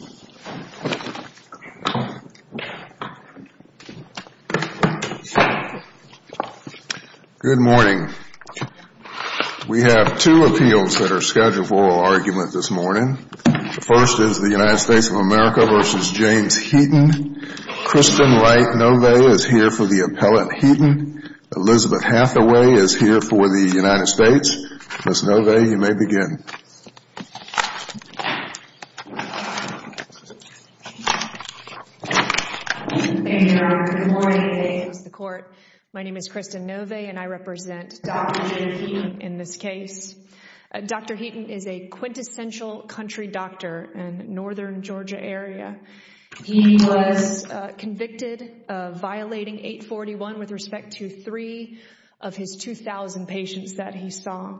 Good morning. We have two appeals that are scheduled for oral argument this morning. The first is the United States of America v. James Heaton. Kristen Wright Nove is here for the appellate Heaton. Elizabeth Hathaway is here for the United States. Ms. Nove, you Good morning. My name is Kristen Nove and I represent Dr. James Heaton in this case. Dr. Heaton is a quintessential country doctor in the northern Georgia area. He was convicted of violating 841 with respect to three of his 2,000 patients that he saw.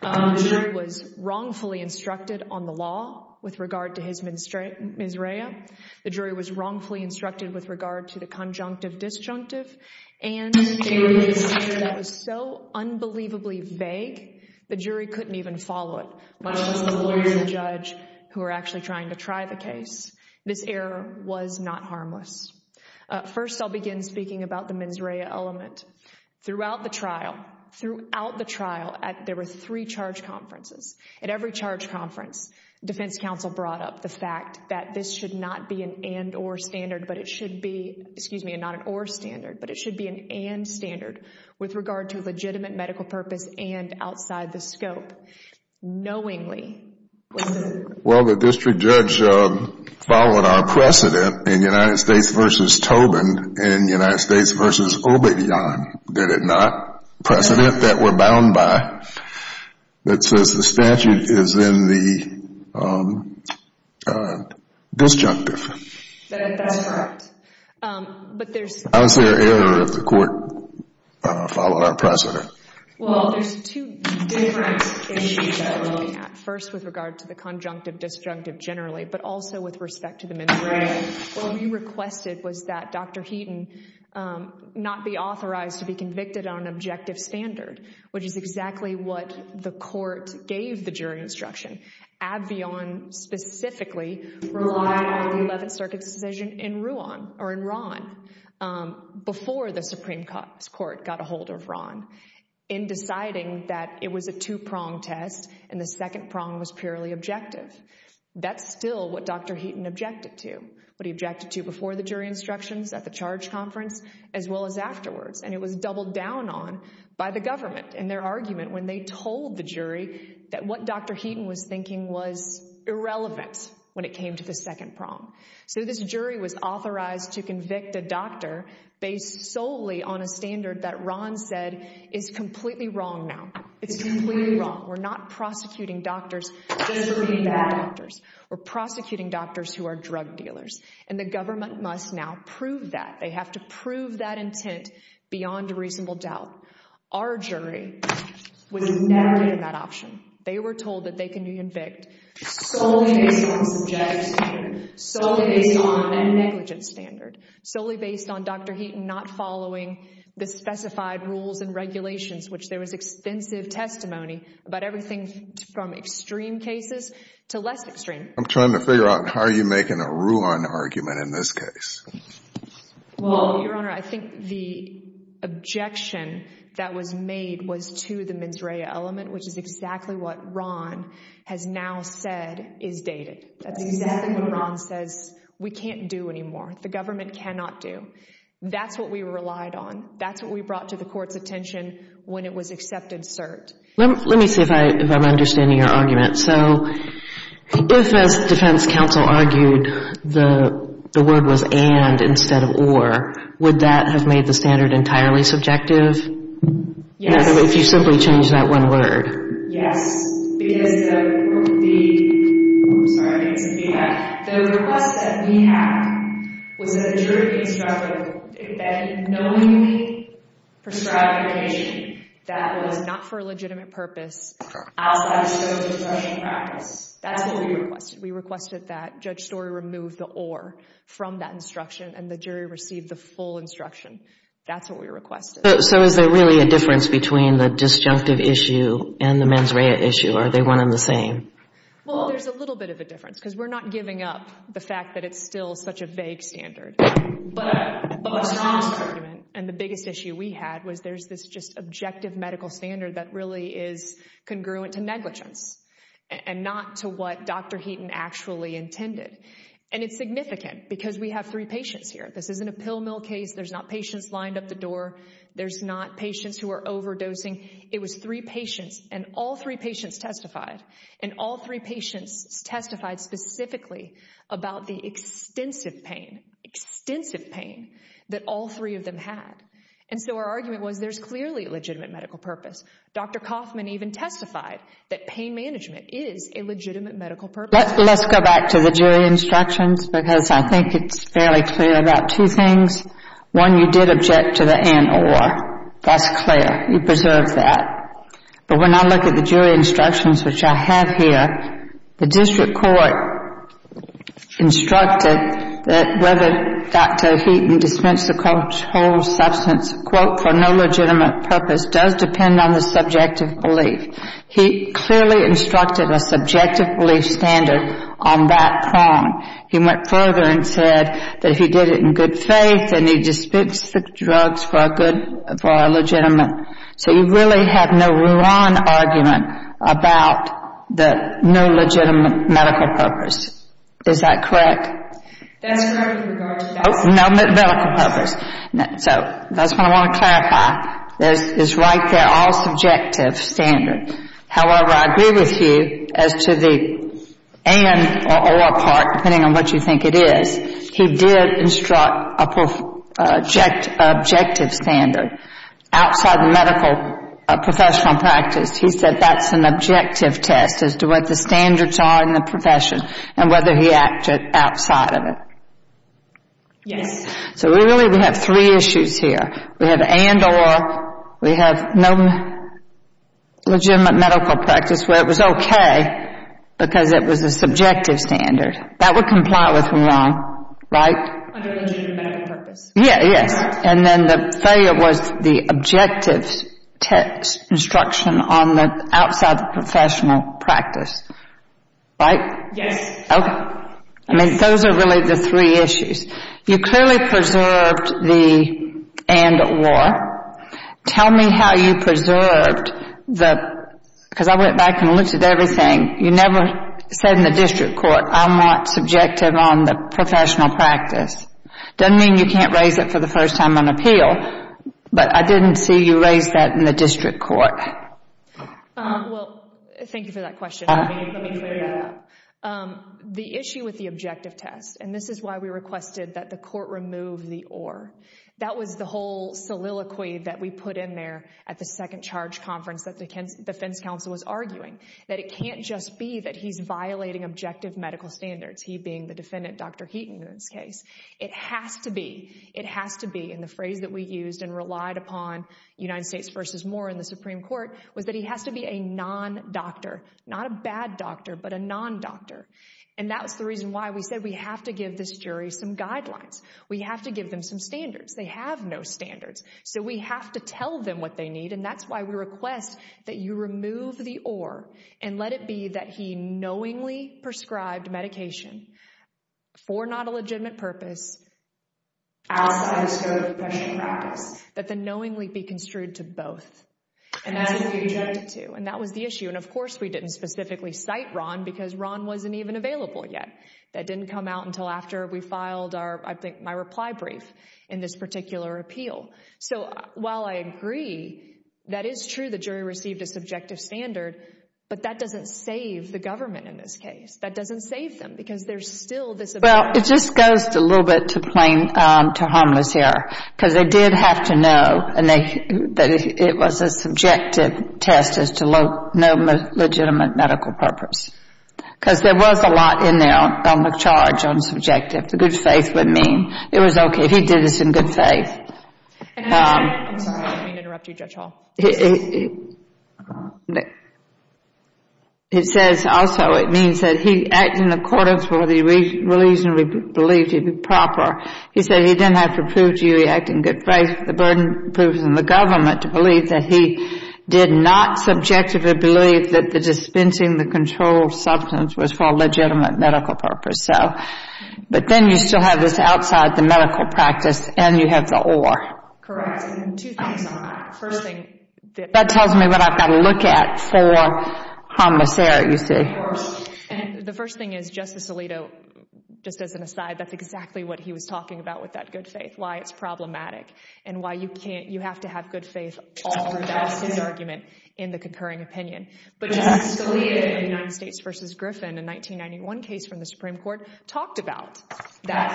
He was wrongfully instructed on the law with regard to his mens rea. The jury was wrongfully instructed with regard to the conjunctive disjunctive and they released an error that was so unbelievably vague the jury couldn't even follow it, much less the lawyers and judge who were actually trying to try the case. This error was not harmless. First, I'll begin speaking about the mens rea element. Throughout the trial, there were three charge conferences. At every charge conference, defense counsel brought up the fact that this should not be an and or standard, but it should be, excuse me, not an or standard, but it should be an and standard with regard to legitimate medical purpose and outside the scope, knowingly. Well, the district judge followed our precedent in United States v. Tobin and United States v. Obedian, get it not, precedent that we're bound by that says the statute is in the disjunctive. That's correct. But there's... How is there error if the court followed our precedent? Well, there's two different issues that we're looking at. First, with regard to the conjunctive disjunctive generally, but also with respect to the mens rea. What he requested was that Dr. Heaton not be authorized to be convicted on an objective standard, which is exactly what the court gave the jury instruction. Abbeon specifically relied on the 11th Circuit's decision in Ruan, or in Ruan, before the Supreme Court got a hold of Ruan in deciding that it was a two-prong test and the second prong was purely objective. That's still what Dr. Heaton objected to, what he objected to before the jury instructions at the charge conference, as well as afterwards. And it was doubled down on by the government in their argument when they told the jury that what Dr. Heaton was thinking was irrelevant when it came to the second prong. So this jury was authorized to convict a doctor based solely on a standard that Ruan said is completely wrong now. It's completely wrong. We're not prosecuting doctors just for being bad doctors. We're prosecuting doctors who are drug dealers. And the government must now prove that. They have to prove that intent beyond a reasonable doubt. Our jury was never given that option. They were told that they can be convicted solely based on subjective standard, solely based on a negligent standard, solely based on Dr. Heaton not following the specified rules and regulations, which there was extensive testimony about everything from extreme cases to less extreme. I'm trying to figure out how are you making a Ruan argument in this case? Well, Your Honor, I think the objection that was made was to the mens rea element, which is exactly what Ron has now said is dated. That's exactly what Ron says we can't do anymore, the government cannot do. That's what we relied on. That's what we brought to the Court's assert. Let me see if I'm understanding your argument. So if, as defense counsel argued, the word was and instead of or, would that have made the standard entirely subjective? Yes. If you simply changed that one word. Yes, because the request that we had was that the jury be instructed that knowingly prescribed medication that was not for a legitimate purpose outside the scope of discretion practice. That's what we requested. We requested that Judge Story remove the or from that instruction and the jury receive the full instruction. That's what we requested. So is there really a difference between the disjunctive issue and the mens rea issue or are they one and the same? Well, there's a little bit of a difference because we're not giving up the fact that it's still such a vague standard. But Ron's argument and the biggest issue we had was that there's this just objective medical standard that really is congruent to negligence and not to what Dr. Heaton actually intended. And it's significant because we have three patients here. This isn't a pill mill case. There's not patients lined up the door. There's not patients who are overdosing. It was three patients and all three patients testified and all three patients testified specifically about the extensive pain, extensive pain that all three of them had. And so our argument was there's clearly a legitimate medical purpose. Dr. Kaufman even testified that pain management is a legitimate medical purpose. Let's go back to the jury instructions because I think it's fairly clear about two things. One you did object to the and or. That's clear. You preserved that. But when I look at the jury instructions which I have here, the district court instructed that whether Dr. Heaton dispensed the controlled substance, quote, for no legitimate purpose does depend on the subjective belief. He clearly instructed a subjective belief standard on that prong. He went further and said that if he did it in good faith, then he dispensed the drugs for a good, for a legitimate. So you really have no wrong argument about the no legitimate medical purpose. Is that correct? That's correct with regard to the no medical purpose. So that's what I want to clarify. It's right there, all subjective standard. However, I agree with you as to the and or part, depending on what you think it is. He did instruct a objective standard. Outside the medical professional practice, he said that's an objective test as to what the standards are in the profession and whether he acted outside of it. Yes. So really we have three issues here. We have and or. We have no legitimate medical practice where it was okay because it was a subjective standard. That would comply with the wrong, right? Under the medical purpose. Yeah, yes. And then the failure was the objective test instruction on the outside the professional practice. Right? Yes. Okay. I mean, those are really the three issues. You clearly preserved the and or. Tell me how you preserved the, because I went back and looked at everything. You never said in the district court, I'm not subjective on the professional practice. Doesn't mean you can't raise it for the first time on appeal, but I didn't see you raise that in the district court. Well, thank you for that question. Let me clear that up. The issue with the objective test, and this is why we requested that the court remove the or. That was the whole soliloquy that we put in there at the second charge conference that the defense counsel was arguing. That it can't just be that he's violating objective medical standards, he being the It has to be in the phrase that we used and relied upon United States versus more in the Supreme court was that he has to be a non doctor, not a bad doctor, but a non doctor. And that was the reason why we said we have to give this jury some guidelines. We have to give them some standards. They have no standards. So we have to tell them what they need. And that's why we request that you remove the or and let it be that he knowingly prescribed medication for not a legitimate purpose. That the knowingly be construed to both. And that was the issue. And of course, we didn't specifically cite Ron because Ron wasn't even available yet. That didn't come out until after we filed our, I think my reply brief in this particular appeal. So while I agree, that is true. The jury received a subjective standard, but that doesn't save the government in this case. That doesn't save them because there's still this. Well, it just goes a little bit to plain, to harmless error because they did have to know and they, that it was a subjective test as to low, no legitimate medical purpose. Because there was a lot in there on the charge on subjective. The good faith would mean it was okay. He did this in good faith. I'm sorry. I didn't mean to interrupt you, Judge Hall. It says also, it means that he acted in accordance with what he reasonably believed to be proper. He said he didn't have to prove to you he acted in good faith. The burden proves in the government to believe that he did not subjectively believe that the dispensing the controlled substance was for a legitimate medical purpose. So, but then you still have this outside the medical practice and you have the or. Correct. And two things on that. First thing, that tells me what I've got to look at for harmless error, you see. The first thing is Justice Alito, just as an aside, that's exactly what he was talking about with that good faith, why it's problematic and why you can't, you have to have good faith all the time. That's his argument in the concurring opinion. But Justice Scalia in the United States has a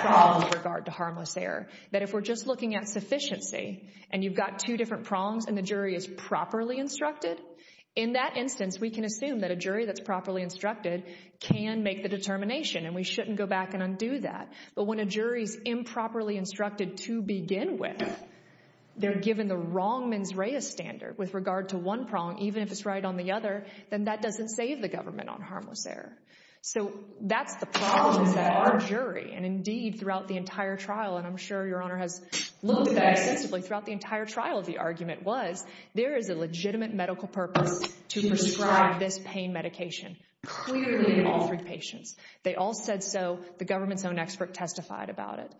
very strong regard to harmless error, that if we're just looking at sufficiency and you've got two different prongs and the jury is properly instructed, in that instance, we can assume that a jury that's properly instructed can make the determination and we shouldn't go back and undo that. But when a jury is improperly instructed to begin with, they're given the wrong mens rea standard with regard to one prong, even if it's right on the other, then that doesn't save the government on harmless error. So that's the problem with our jury. And indeed, throughout the entire trial, and I'm sure Your Honor has looked at that extensively, throughout the entire trial, the argument was there is a legitimate medical purpose to prescribe this pain medication, clearly in all three patients. They all said so. The government's own expert testified about it.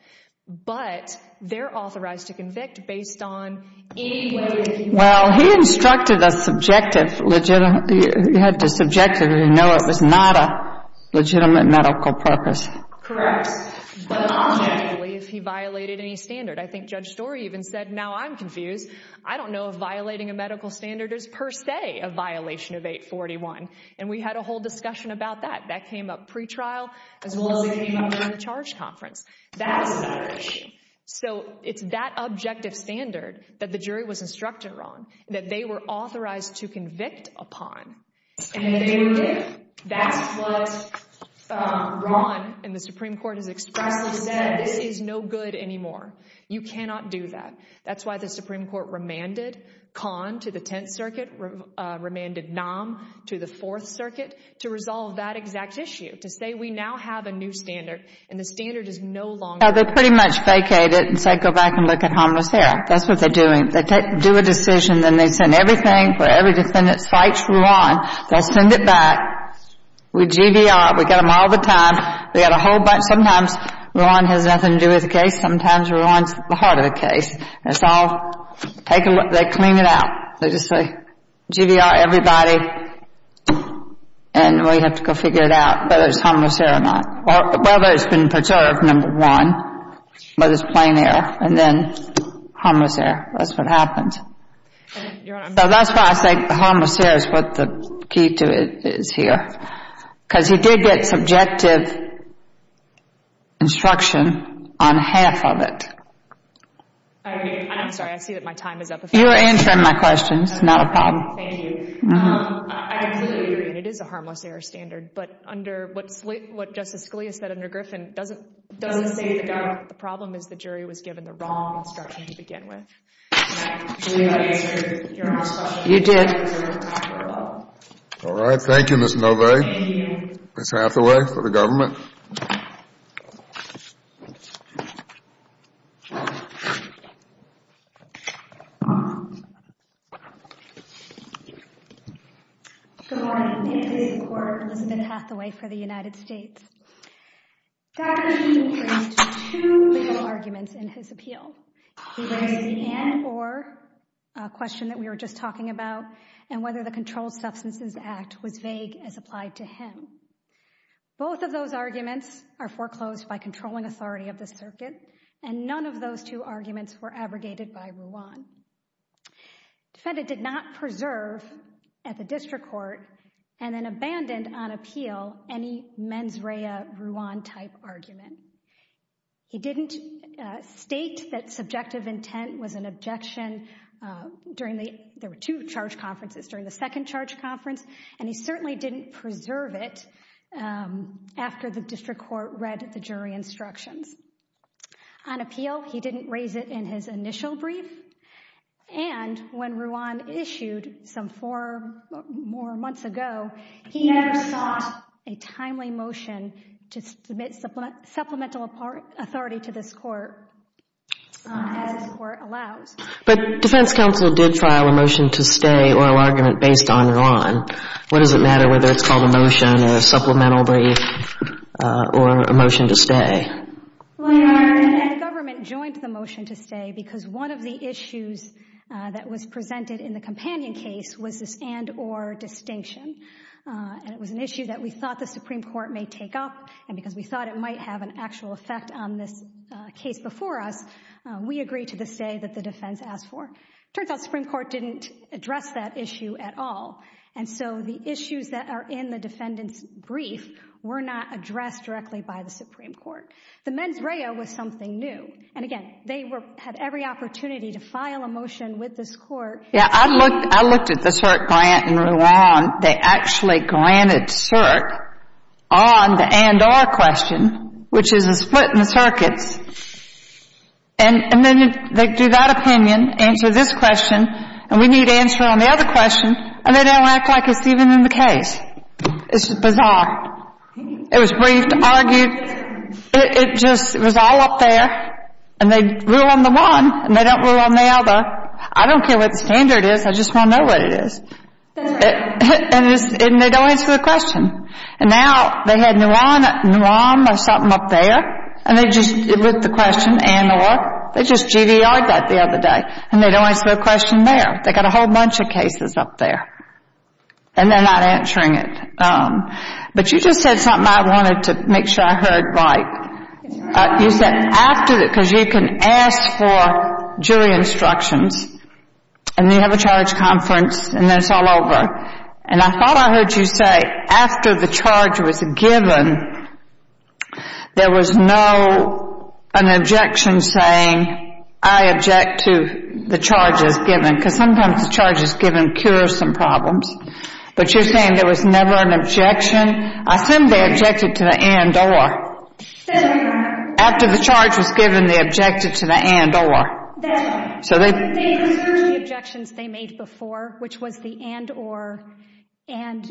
But they're authorized to convict based on any way that they want. Well, he instructed a subjective, you had to subjectively know it was not a legitimate medical purpose. Correct. But I don't believe he violated any standard. I think Judge Storey even said, now I'm confused. I don't know if violating a medical standard is per se a violation of 841. And we had a whole discussion about that. That came up pre-trial as well as it came up during the charge conference. That's another issue. So it's that objective standard that the jury was instructed on, that they were authorized to convict upon. And they did. That's what Ron and the Supreme Court has expressly said. This is no good anymore. You cannot do that. That's why the Supreme Court remanded Kahn to the Tenth Circuit, remanded Nomm to the Fourth Circuit to resolve that exact issue, to say we now have a new standard and the standard is no longer valid. They pretty much vacated and said, go back and look at homicidal. That's what they're doing. Everything, where every defendant fights Ron, they'll send it back. We GDR, we get them all the time. We get a whole bunch. Sometimes Ron has nothing to do with the case. Sometimes Ron's the heart of the case. It's all, they clean it out. They just say GDR everybody and we have to go figure it out whether it's harmless there or not. Whether it's been preserved, number one. Whether it's plain there. And then harmless there. That's what happens. So that's why I say harmless there is what the key to it is here. Because you did get subjective instruction on half of it. I'm sorry. I see that my time is up. You're answering my questions, not a problem. Thank you. I completely agree. It is a harmless error standard. But under what Justice Scalia said under Griffin, it doesn't say the problem is the jury was given the wrong instruction to begin with. Do we have an answer to your last question? You did. All right. Thank you, Ms. Novay. Thank you. Ms. Hathaway for the government. Good morning. It is the Court of Elizabeth Hathaway for the United States. Dr. Sheehan produced two legal arguments in his appeal. He raised the an or question that we were just talking about and whether the Controlled Substances Act was vague as applied to him. Both of those arguments are foreclosed by controlling authority of the circuit and none of those two arguments were abrogated by Ruan. Defendant did not preserve at the district court and then abandoned on appeal any mens rea Ruan-type argument. He didn't state that subjective intent was an objection during the—there were two charge conferences—during the second charge conference, and he certainly didn't preserve it after the district court read the jury instructions. On appeal, he didn't raise it in his initial brief, and when Ruan issued some four more months ago, he never sought a timely motion to submit supplemental authority to this court as the court allows. But defense counsel did file a motion to stay oral argument based on Ruan. What does it matter whether it's called a motion or a supplemental brief or a motion to stay? The government joined the motion to stay because one of the issues that was presented in the companion case was this and or distinction, and it was an issue that we thought the Supreme Court may take up, and because we thought it might have an actual effect on this case before us, we agreed to the stay that the defense asked for. It turns out the Supreme Court didn't address that issue at all, and so the issues that are in the defendant's brief were not addressed directly by the Supreme Court. The mens rea was something new, and again, they had every opportunity to file a motion with this court. Yeah, I looked at the CERC grant in Ruan. They actually granted CERC on the and or question, which is a split in the circuits, and then they do that opinion, answer this question, and we need answer on the other question, and they don't act like it's even in the case. It's bizarre. It was briefed, argued, it was all up there, and they rule on the one, and they don't rule on the other. I don't care what the standard is, I just want to know what it is, and they don't answer the question. And now they had Ruan or something up there, and they just looked at the question and or, they just GDR'd that the other day, and they don't answer the question there. They've got a whole bunch of cases up there, and they're not answering it. But you just said something I wanted to make sure I heard right. You said after, because you can ask for jury instructions, and you have a charge conference, and then it's all over. And I thought I heard you say after the charge was given, there was no, an objection saying I object to the charges given, because sometimes the charges given cure some problems. But you're saying there was never an objection. I assume they objected to the and or. After the charge was given, they objected to the and or. That's right. So they preserved the objections they made before, which was the and or, and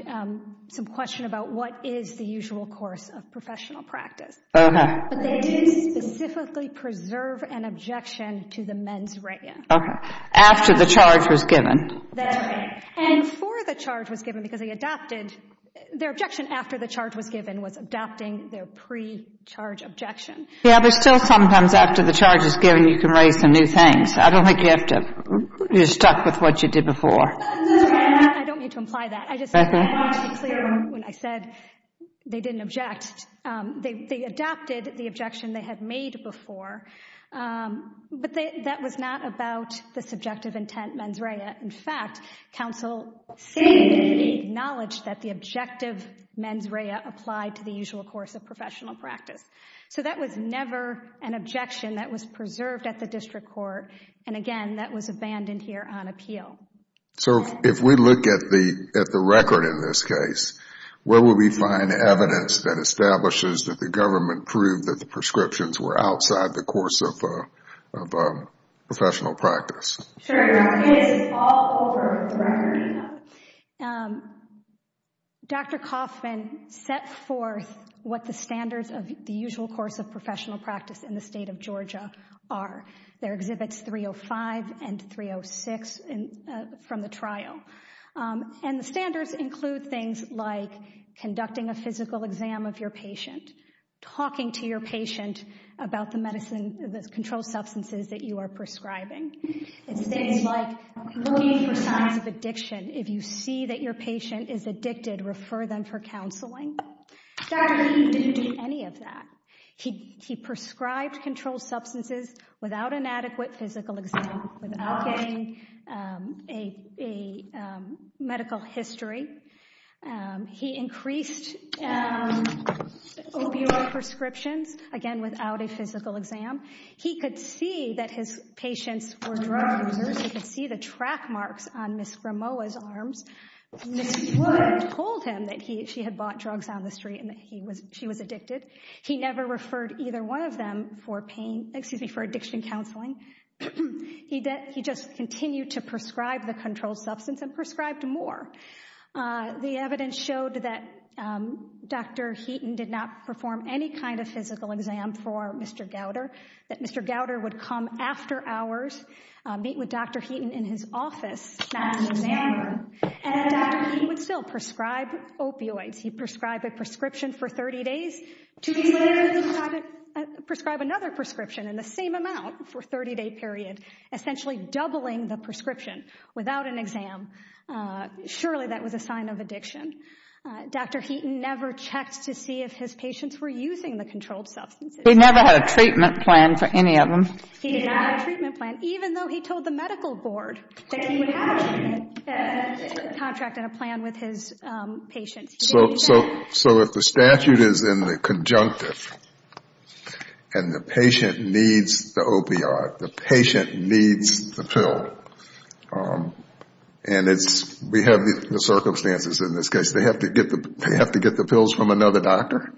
some question about what is the usual course of professional practice. Okay. But they did specifically preserve an objection to the mens rea. Okay. After the charge was given. That's right. And before the charge was given, because they adopted, their objection after the charge was given was adopting their pre-charge objection. Yeah, but still sometimes after the charge is given, you can raise some new things. I don't think you have to, you're stuck with what you did before. I don't mean to imply that. I just wanted to be clear when I said they didn't object. They adopted the objection they had made before. But that was not about the subjective intent mens rea. In fact, counsel seemed to acknowledge that the objective mens rea applied to the usual course of professional practice. So that was never an objection that was preserved at the district court. And again, that was abandoned here on appeal. So if we look at the record in this case, where would we find evidence that establishes that the government proved that the prescriptions were outside the course of professional practice? This is all over the record. Dr. Kaufman set forth what the standards of the usual course of professional practice in the state of Georgia are. There are exhibits 305 and 306 from the trial. And the standards include things like conducting a physical exam of your patient, talking to your patient about the controlled substances that you are prescribing. It's things like looking for signs of addiction. If you see that your patient is addicted, refer them for counseling. Dr. King didn't do any of that. He prescribed controlled substances without an adequate physical exam, without getting a medical history. He increased opioid prescriptions, again, without a physical exam. He could see that his patients were drug users. He could see the track marks on Ms. Gramoa's arms. Ms. Wood told him that she had bought drugs down the street and that she was addicted. He never referred either one of them for addiction counseling. He just continued to prescribe the controlled substance and prescribed more. The evidence showed that Dr. Heaton did not perform any kind of physical exam for Mr. Gowder. That Mr. Gowder would come after hours, meet with Dr. Heaton in his office, not in his lab room. And Dr. Heaton would still prescribe opioids. He prescribed a prescription for 30 days. Two weeks later, he would prescribe another prescription in the same amount for a 30-day period, essentially doubling the prescription without an exam. Surely that was a sign of addiction. Dr. Heaton never checked to see if his patients were using the controlled substances. He never had a treatment plan for any of them. He did not have a treatment plan, even though he told the medical board that he would have a contract and a plan with his patients. So if the statute is in the conjunctive and the patient needs the opioid, the patient needs the pill, and we have the circumstances in this case, they have to get the pills from another doctor?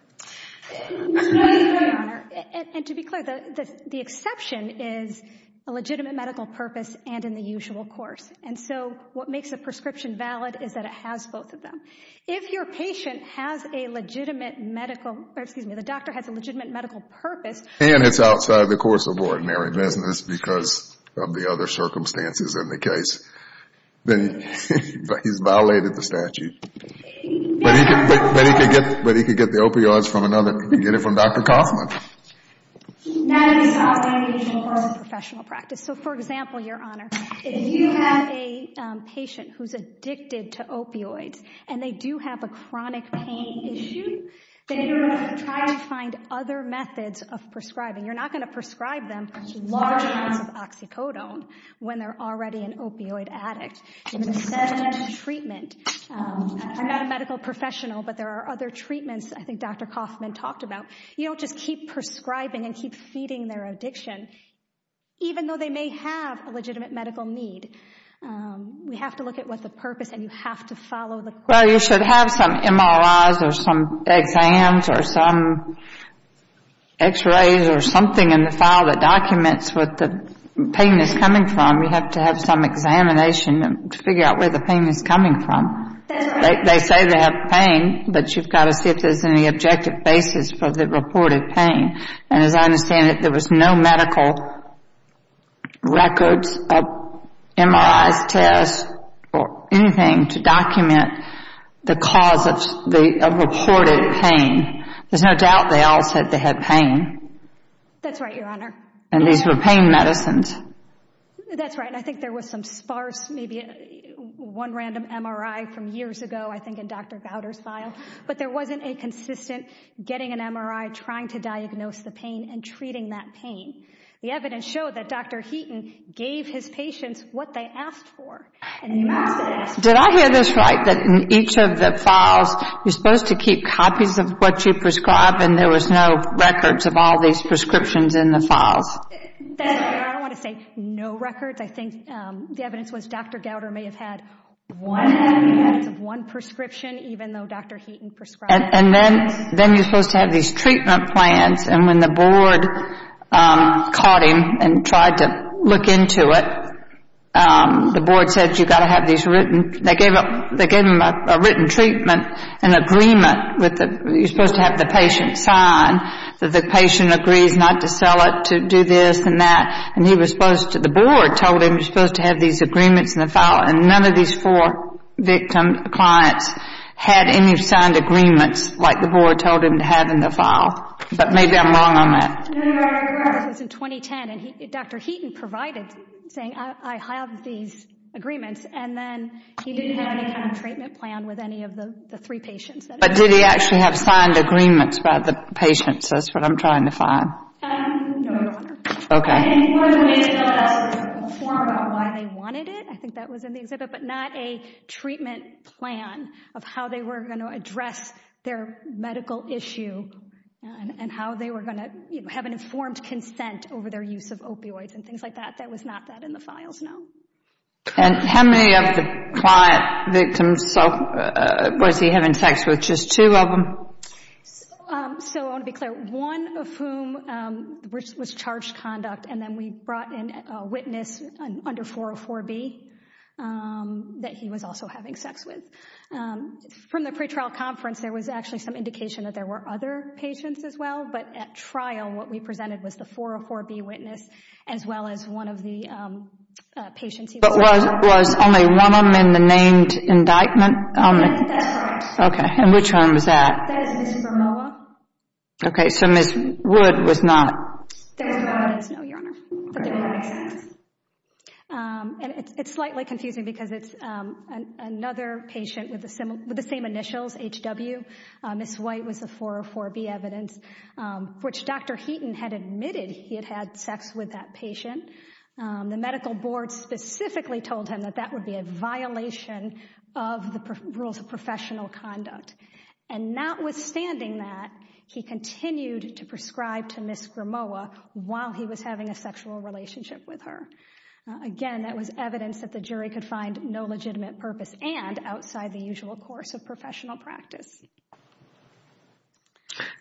No, Your Honor. And to be clear, the exception is a legitimate medical purpose and in the usual course. And so what makes a prescription valid is that it has both of them. If your patient has a legitimate medical, or excuse me, the doctor has a legitimate medical purpose, And it's outside the course of ordinary business because of the other circumstances in the case, then he's violated the statute. But he could get the opioids from another, he could get it from Dr. Kaufman. That is a violation of oral professional practice. So for example, Your Honor, if you have a patient who's addicted to opioids, and they do have a chronic pain issue, then you're going to try to find other methods of prescribing. You're not going to prescribe them large amounts of oxycodone when they're already an opioid addict. You're going to send them to treatment. I'm not a medical professional, but there are other treatments I think Dr. Kaufman talked about. You don't just keep prescribing and keep feeding their addiction. Even though they may have a legitimate medical need, we have to look at what the purpose, and you have to follow the course. Well, you should have some MRIs or some exams or some x-rays or something in the file that documents what the pain is coming from. You have to have some examination to figure out where the pain is coming from. They say they have pain, but you've got to see if there's any objective basis for the reported pain. And as I understand it, there was no medical records of MRIs, tests, or anything to document the cause of reported pain. There's no doubt they all said they had pain. That's right, Your Honor. And these were pain medicines. That's right. And I think there was some sparse, maybe one random MRI from years ago, I think in Dr. Gowder's file. But there wasn't a consistent getting an MRI, trying to diagnose the pain, and treating that pain. The evidence showed that Dr. Heaton gave his patients what they asked for. Did I hear this right, that in each of the files you're supposed to keep copies of what you prescribe and there was no records of all these prescriptions in the files? That's right, Your Honor. I don't want to say no records. I think the evidence was Dr. Gowder may have had one prescription, even though Dr. Heaton prescribed it. And then you're supposed to have these treatment plans. And when the board caught him and tried to look into it, the board said you've got to have these written. They gave him a written treatment, an agreement. You're supposed to have the patient sign that the patient agrees not to sell it, to do this and that. The board told him you're supposed to have these agreements in the file, and none of these four victim clients had any signed agreements like the board told him to have in the file. But maybe I'm wrong on that. No, you're right, Your Honor. This was in 2010, and Dr. Heaton provided, saying I have these agreements, and then he didn't have any kind of treatment plan with any of the three patients. But did he actually have signed agreements by the patients? That's what I'm trying to find. No, Your Honor. Okay. And part of the reason, though, that's a form about why they wanted it, I think that was in the exhibit, but not a treatment plan of how they were going to address their medical issue and how they were going to have an informed consent over their use of opioids and things like that. That was not that in the files, no. And how many of the client victims was he having sex with? Just two of them? So I want to be clear. One of whom was charged conduct, and then we brought in a witness under 404B that he was also having sex with. From the pretrial conference, there was actually some indication that there were other patients as well, but at trial what we presented was the 404B witness as well as one of the patients. But was only one of them in the named indictment? That's right. Okay. And which one was that? That is Ms. Bromoa. Okay. So Ms. Wood was not? That's right. No, Your Honor. But they were having sex. And it's slightly confusing because it's another patient with the same initials, HW. Ms. White was the 404B evidence, which Dr. Heaton had admitted he had had sex with that patient. The medical board specifically told him that that would be a violation of the rules of professional conduct. And notwithstanding that, he continued to prescribe to Ms. Bromoa while he was having a sexual relationship with her. Again, that was evidence that the jury could find no legitimate purpose and outside the usual course of professional practice.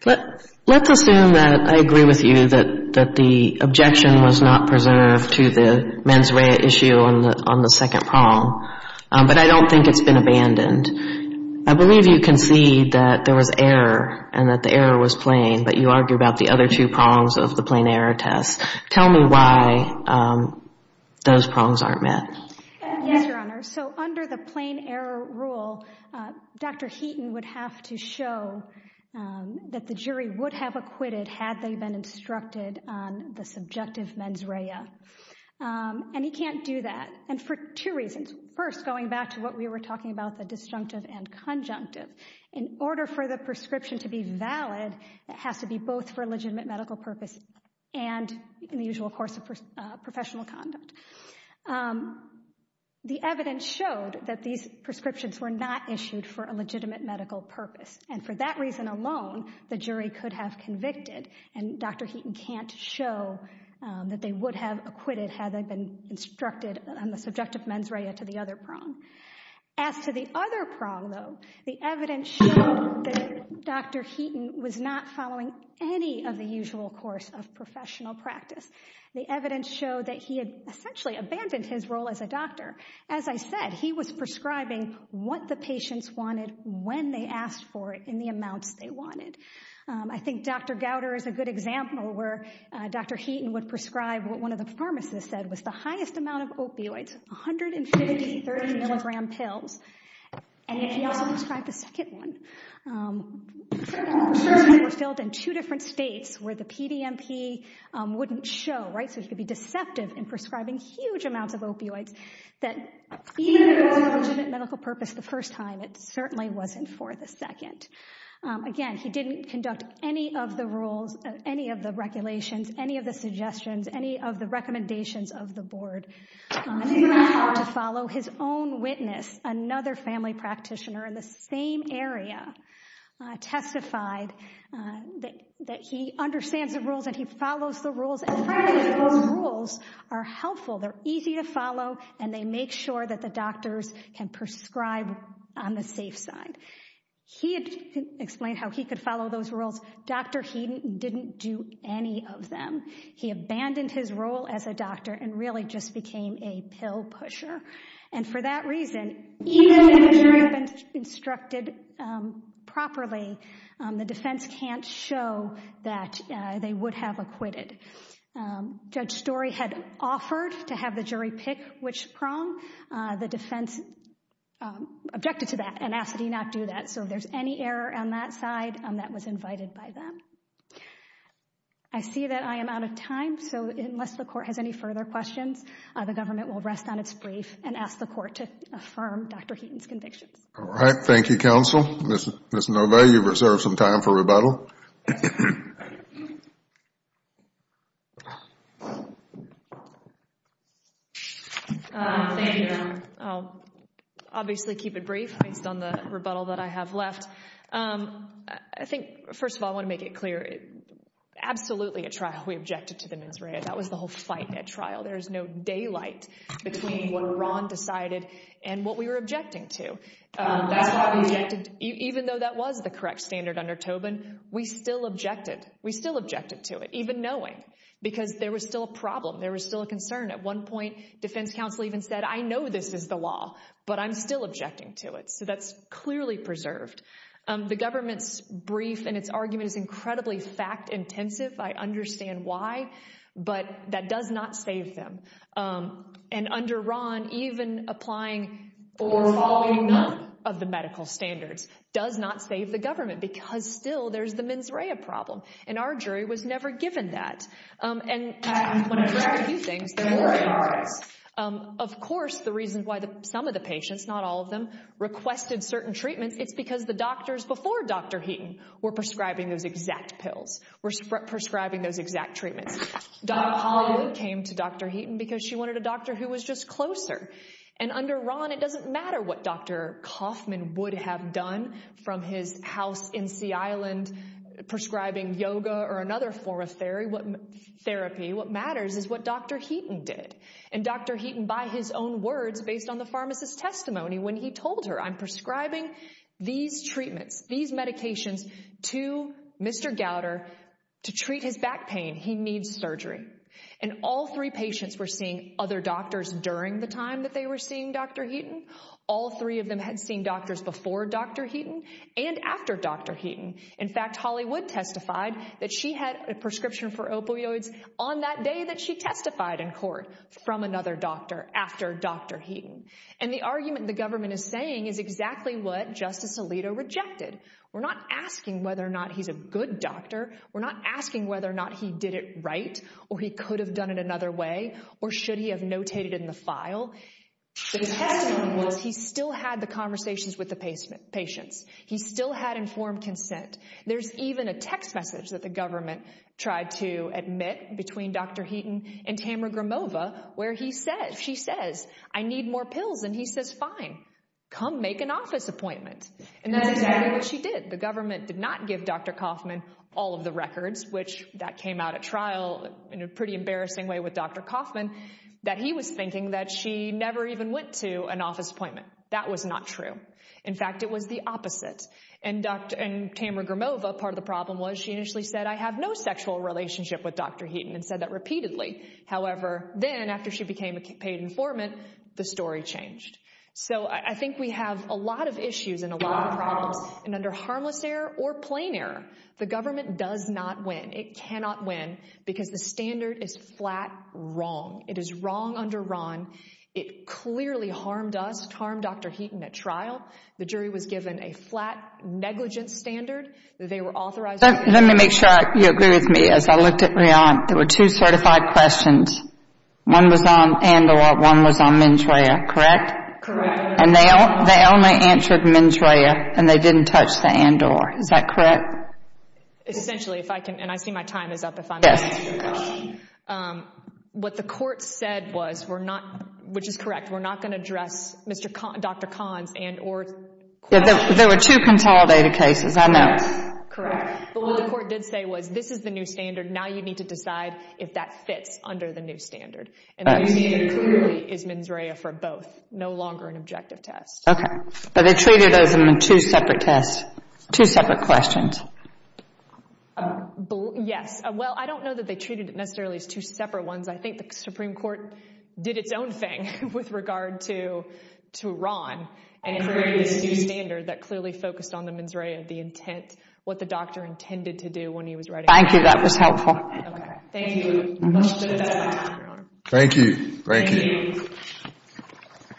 Let's assume that I agree with you that the objection was not preserved to the mens rea issue on the second prong, but I don't think it's been abandoned. I believe you concede that there was error and that the error was plain, but you argue about the other two prongs of the plain error test. Tell me why those prongs aren't met. Yes, Your Honor. So under the plain error rule, Dr. Heaton would have to show that the jury would have acquitted had they been instructed on the subjective mens rea. And he can't do that, and for two reasons. First, going back to what we were talking about, the disjunctive and conjunctive. In order for the prescription to be valid, it has to be both for legitimate medical purpose and in the usual course of professional conduct. The evidence showed that these prescriptions were not issued for a legitimate medical purpose, and for that reason alone, the jury could have convicted, and Dr. Heaton can't show that they would have acquitted had they been instructed on the subjective mens rea to the other prong. As to the other prong, though, the evidence showed that Dr. Heaton was not following any of the usual course of professional practice. The evidence showed that he had essentially abandoned his role as a doctor. As I said, he was prescribing what the patients wanted when they asked for it in the amounts they wanted. I think Dr. Gowder is a good example where Dr. Heaton would prescribe what one of the pharmacists said was the highest amount of opioids, 150 30-milligram pills, and he also prescribed a second one. The prescriptions were filled in two different states where the PDMP wouldn't show, so he could be deceptive in prescribing huge amounts of opioids that even if it was a legitimate medical purpose the first time, it certainly wasn't for the second. Again, he didn't conduct any of the rules, any of the regulations, any of the suggestions, any of the recommendations of the board. To follow his own witness, another family practitioner in the same area testified that he understands the rules and he follows the rules, and frankly those rules are helpful, they're easy to follow, and they make sure that the doctors can prescribe on the safe side. He explained how he could follow those rules. Dr. Heaton didn't do any of them. He abandoned his role as a doctor and really just became a pill pusher, and for that reason, even if the jury had been instructed properly, the defense can't show that they would have acquitted. Judge Story had offered to have the jury pick which prong. The defense objected to that and asked that he not do that, so if there's any error on that side, that was invited by them. I see that I am out of time, so unless the court has any further questions, the government will rest on its brief and ask the court to affirm Dr. Heaton's convictions. All right. Thank you, counsel. Ms. Novay, you've reserved some time for rebuttal. Thank you. I'll obviously keep it brief based on the rebuttal that I have left. I think, first of all, I want to make it clear. Absolutely, at trial, we objected to the mens rea. That was the whole fight at trial. There is no daylight between what Iran decided and what we were objecting to. That's why we objected. Even though that was the correct standard under Tobin, we still objected. We still objected to it, even knowing, because there was still a problem. There was still a concern. At one point, defense counsel even said, I know this is the law, but I'm still objecting to it. So that's clearly preserved. The government's brief and its argument is incredibly fact-intensive. I understand why, but that does not save them. And under Ron, even applying for following none of the medical standards does not save the government because still there's the mens rea problem, and our jury was never given that. And when I try to do things, they're more than words. Of course, the reason why some of the patients, not all of them, requested certain treatments, it's because the doctors before Dr. Heaton were prescribing those exact pills, were prescribing those exact treatments. Hollywood came to Dr. Heaton because she wanted a doctor who was just closer. And under Ron, it doesn't matter what Dr. Kaufman would have done from his house in Sea Island prescribing yoga or another form of therapy. What matters is what Dr. Heaton did. And Dr. Heaton, by his own words, based on the pharmacist's testimony when he told her, I'm prescribing these treatments, these medications to Mr. Gowder to treat his back pain, he needs surgery. And all three patients were seeing other doctors during the time that they were seeing Dr. Heaton. All three of them had seen doctors before Dr. Heaton and after Dr. Heaton. In fact, Hollywood testified that she had a prescription for opioids on that day that she testified in court from another doctor after Dr. Heaton. And the argument the government is saying is exactly what Justice Alito rejected. We're not asking whether or not he's a good doctor. We're not asking whether or not he did it right or he could have done it another way or should he have notated it in the file. The testimony was he still had the conversations with the patients. He still had informed consent. There's even a text message that the government tried to admit between Dr. Heaton and Tamara Gramova where she says, I need more pills, and he says, fine, come make an office appointment. And that's exactly what she did. The government did not give Dr. Kaufman all of the records, which that came out at trial in a pretty embarrassing way with Dr. Kaufman, that he was thinking that she never even went to an office appointment. That was not true. In fact, it was the opposite. And Tamara Gramova, part of the problem was she initially said, I have no sexual relationship with Dr. Heaton and said that repeatedly. However, then after she became a paid informant, the story changed. So I think we have a lot of issues and a lot of problems. And under harmless error or plain error, the government does not win. It cannot win because the standard is flat wrong. It is wrong under Ron. It clearly harmed us. It harmed Dr. Heaton at trial. The jury was given a flat negligence standard. They were authorized. Let me make sure you agree with me. As I looked at Rion, there were two certified questions. One was on Andor. One was on Mendrea. Correct? Correct. And they only answered Mendrea, and they didn't touch the Andor. Is that correct? Essentially, if I can, and I see my time is up. Yes. What the court said was, which is correct, we're not going to address Dr. Cahn's Andor question. There were two consolidated cases, I know. Correct. But what the court did say was, this is the new standard. Now you need to decide if that fits under the new standard. And what you needed clearly is Mendrea for both. No longer an objective test. Okay. But they treated those in two separate tests, two separate questions. Yes. Well, I don't know that they treated it necessarily as two separate ones. I think the Supreme Court did its own thing with regard to Ron and created this new standard that clearly focused on the Mendrea, the intent, what the doctor intended to do when he was writing it. Thank you. That was helpful. Okay. Thank you. Thank you. Thank you. Thank you.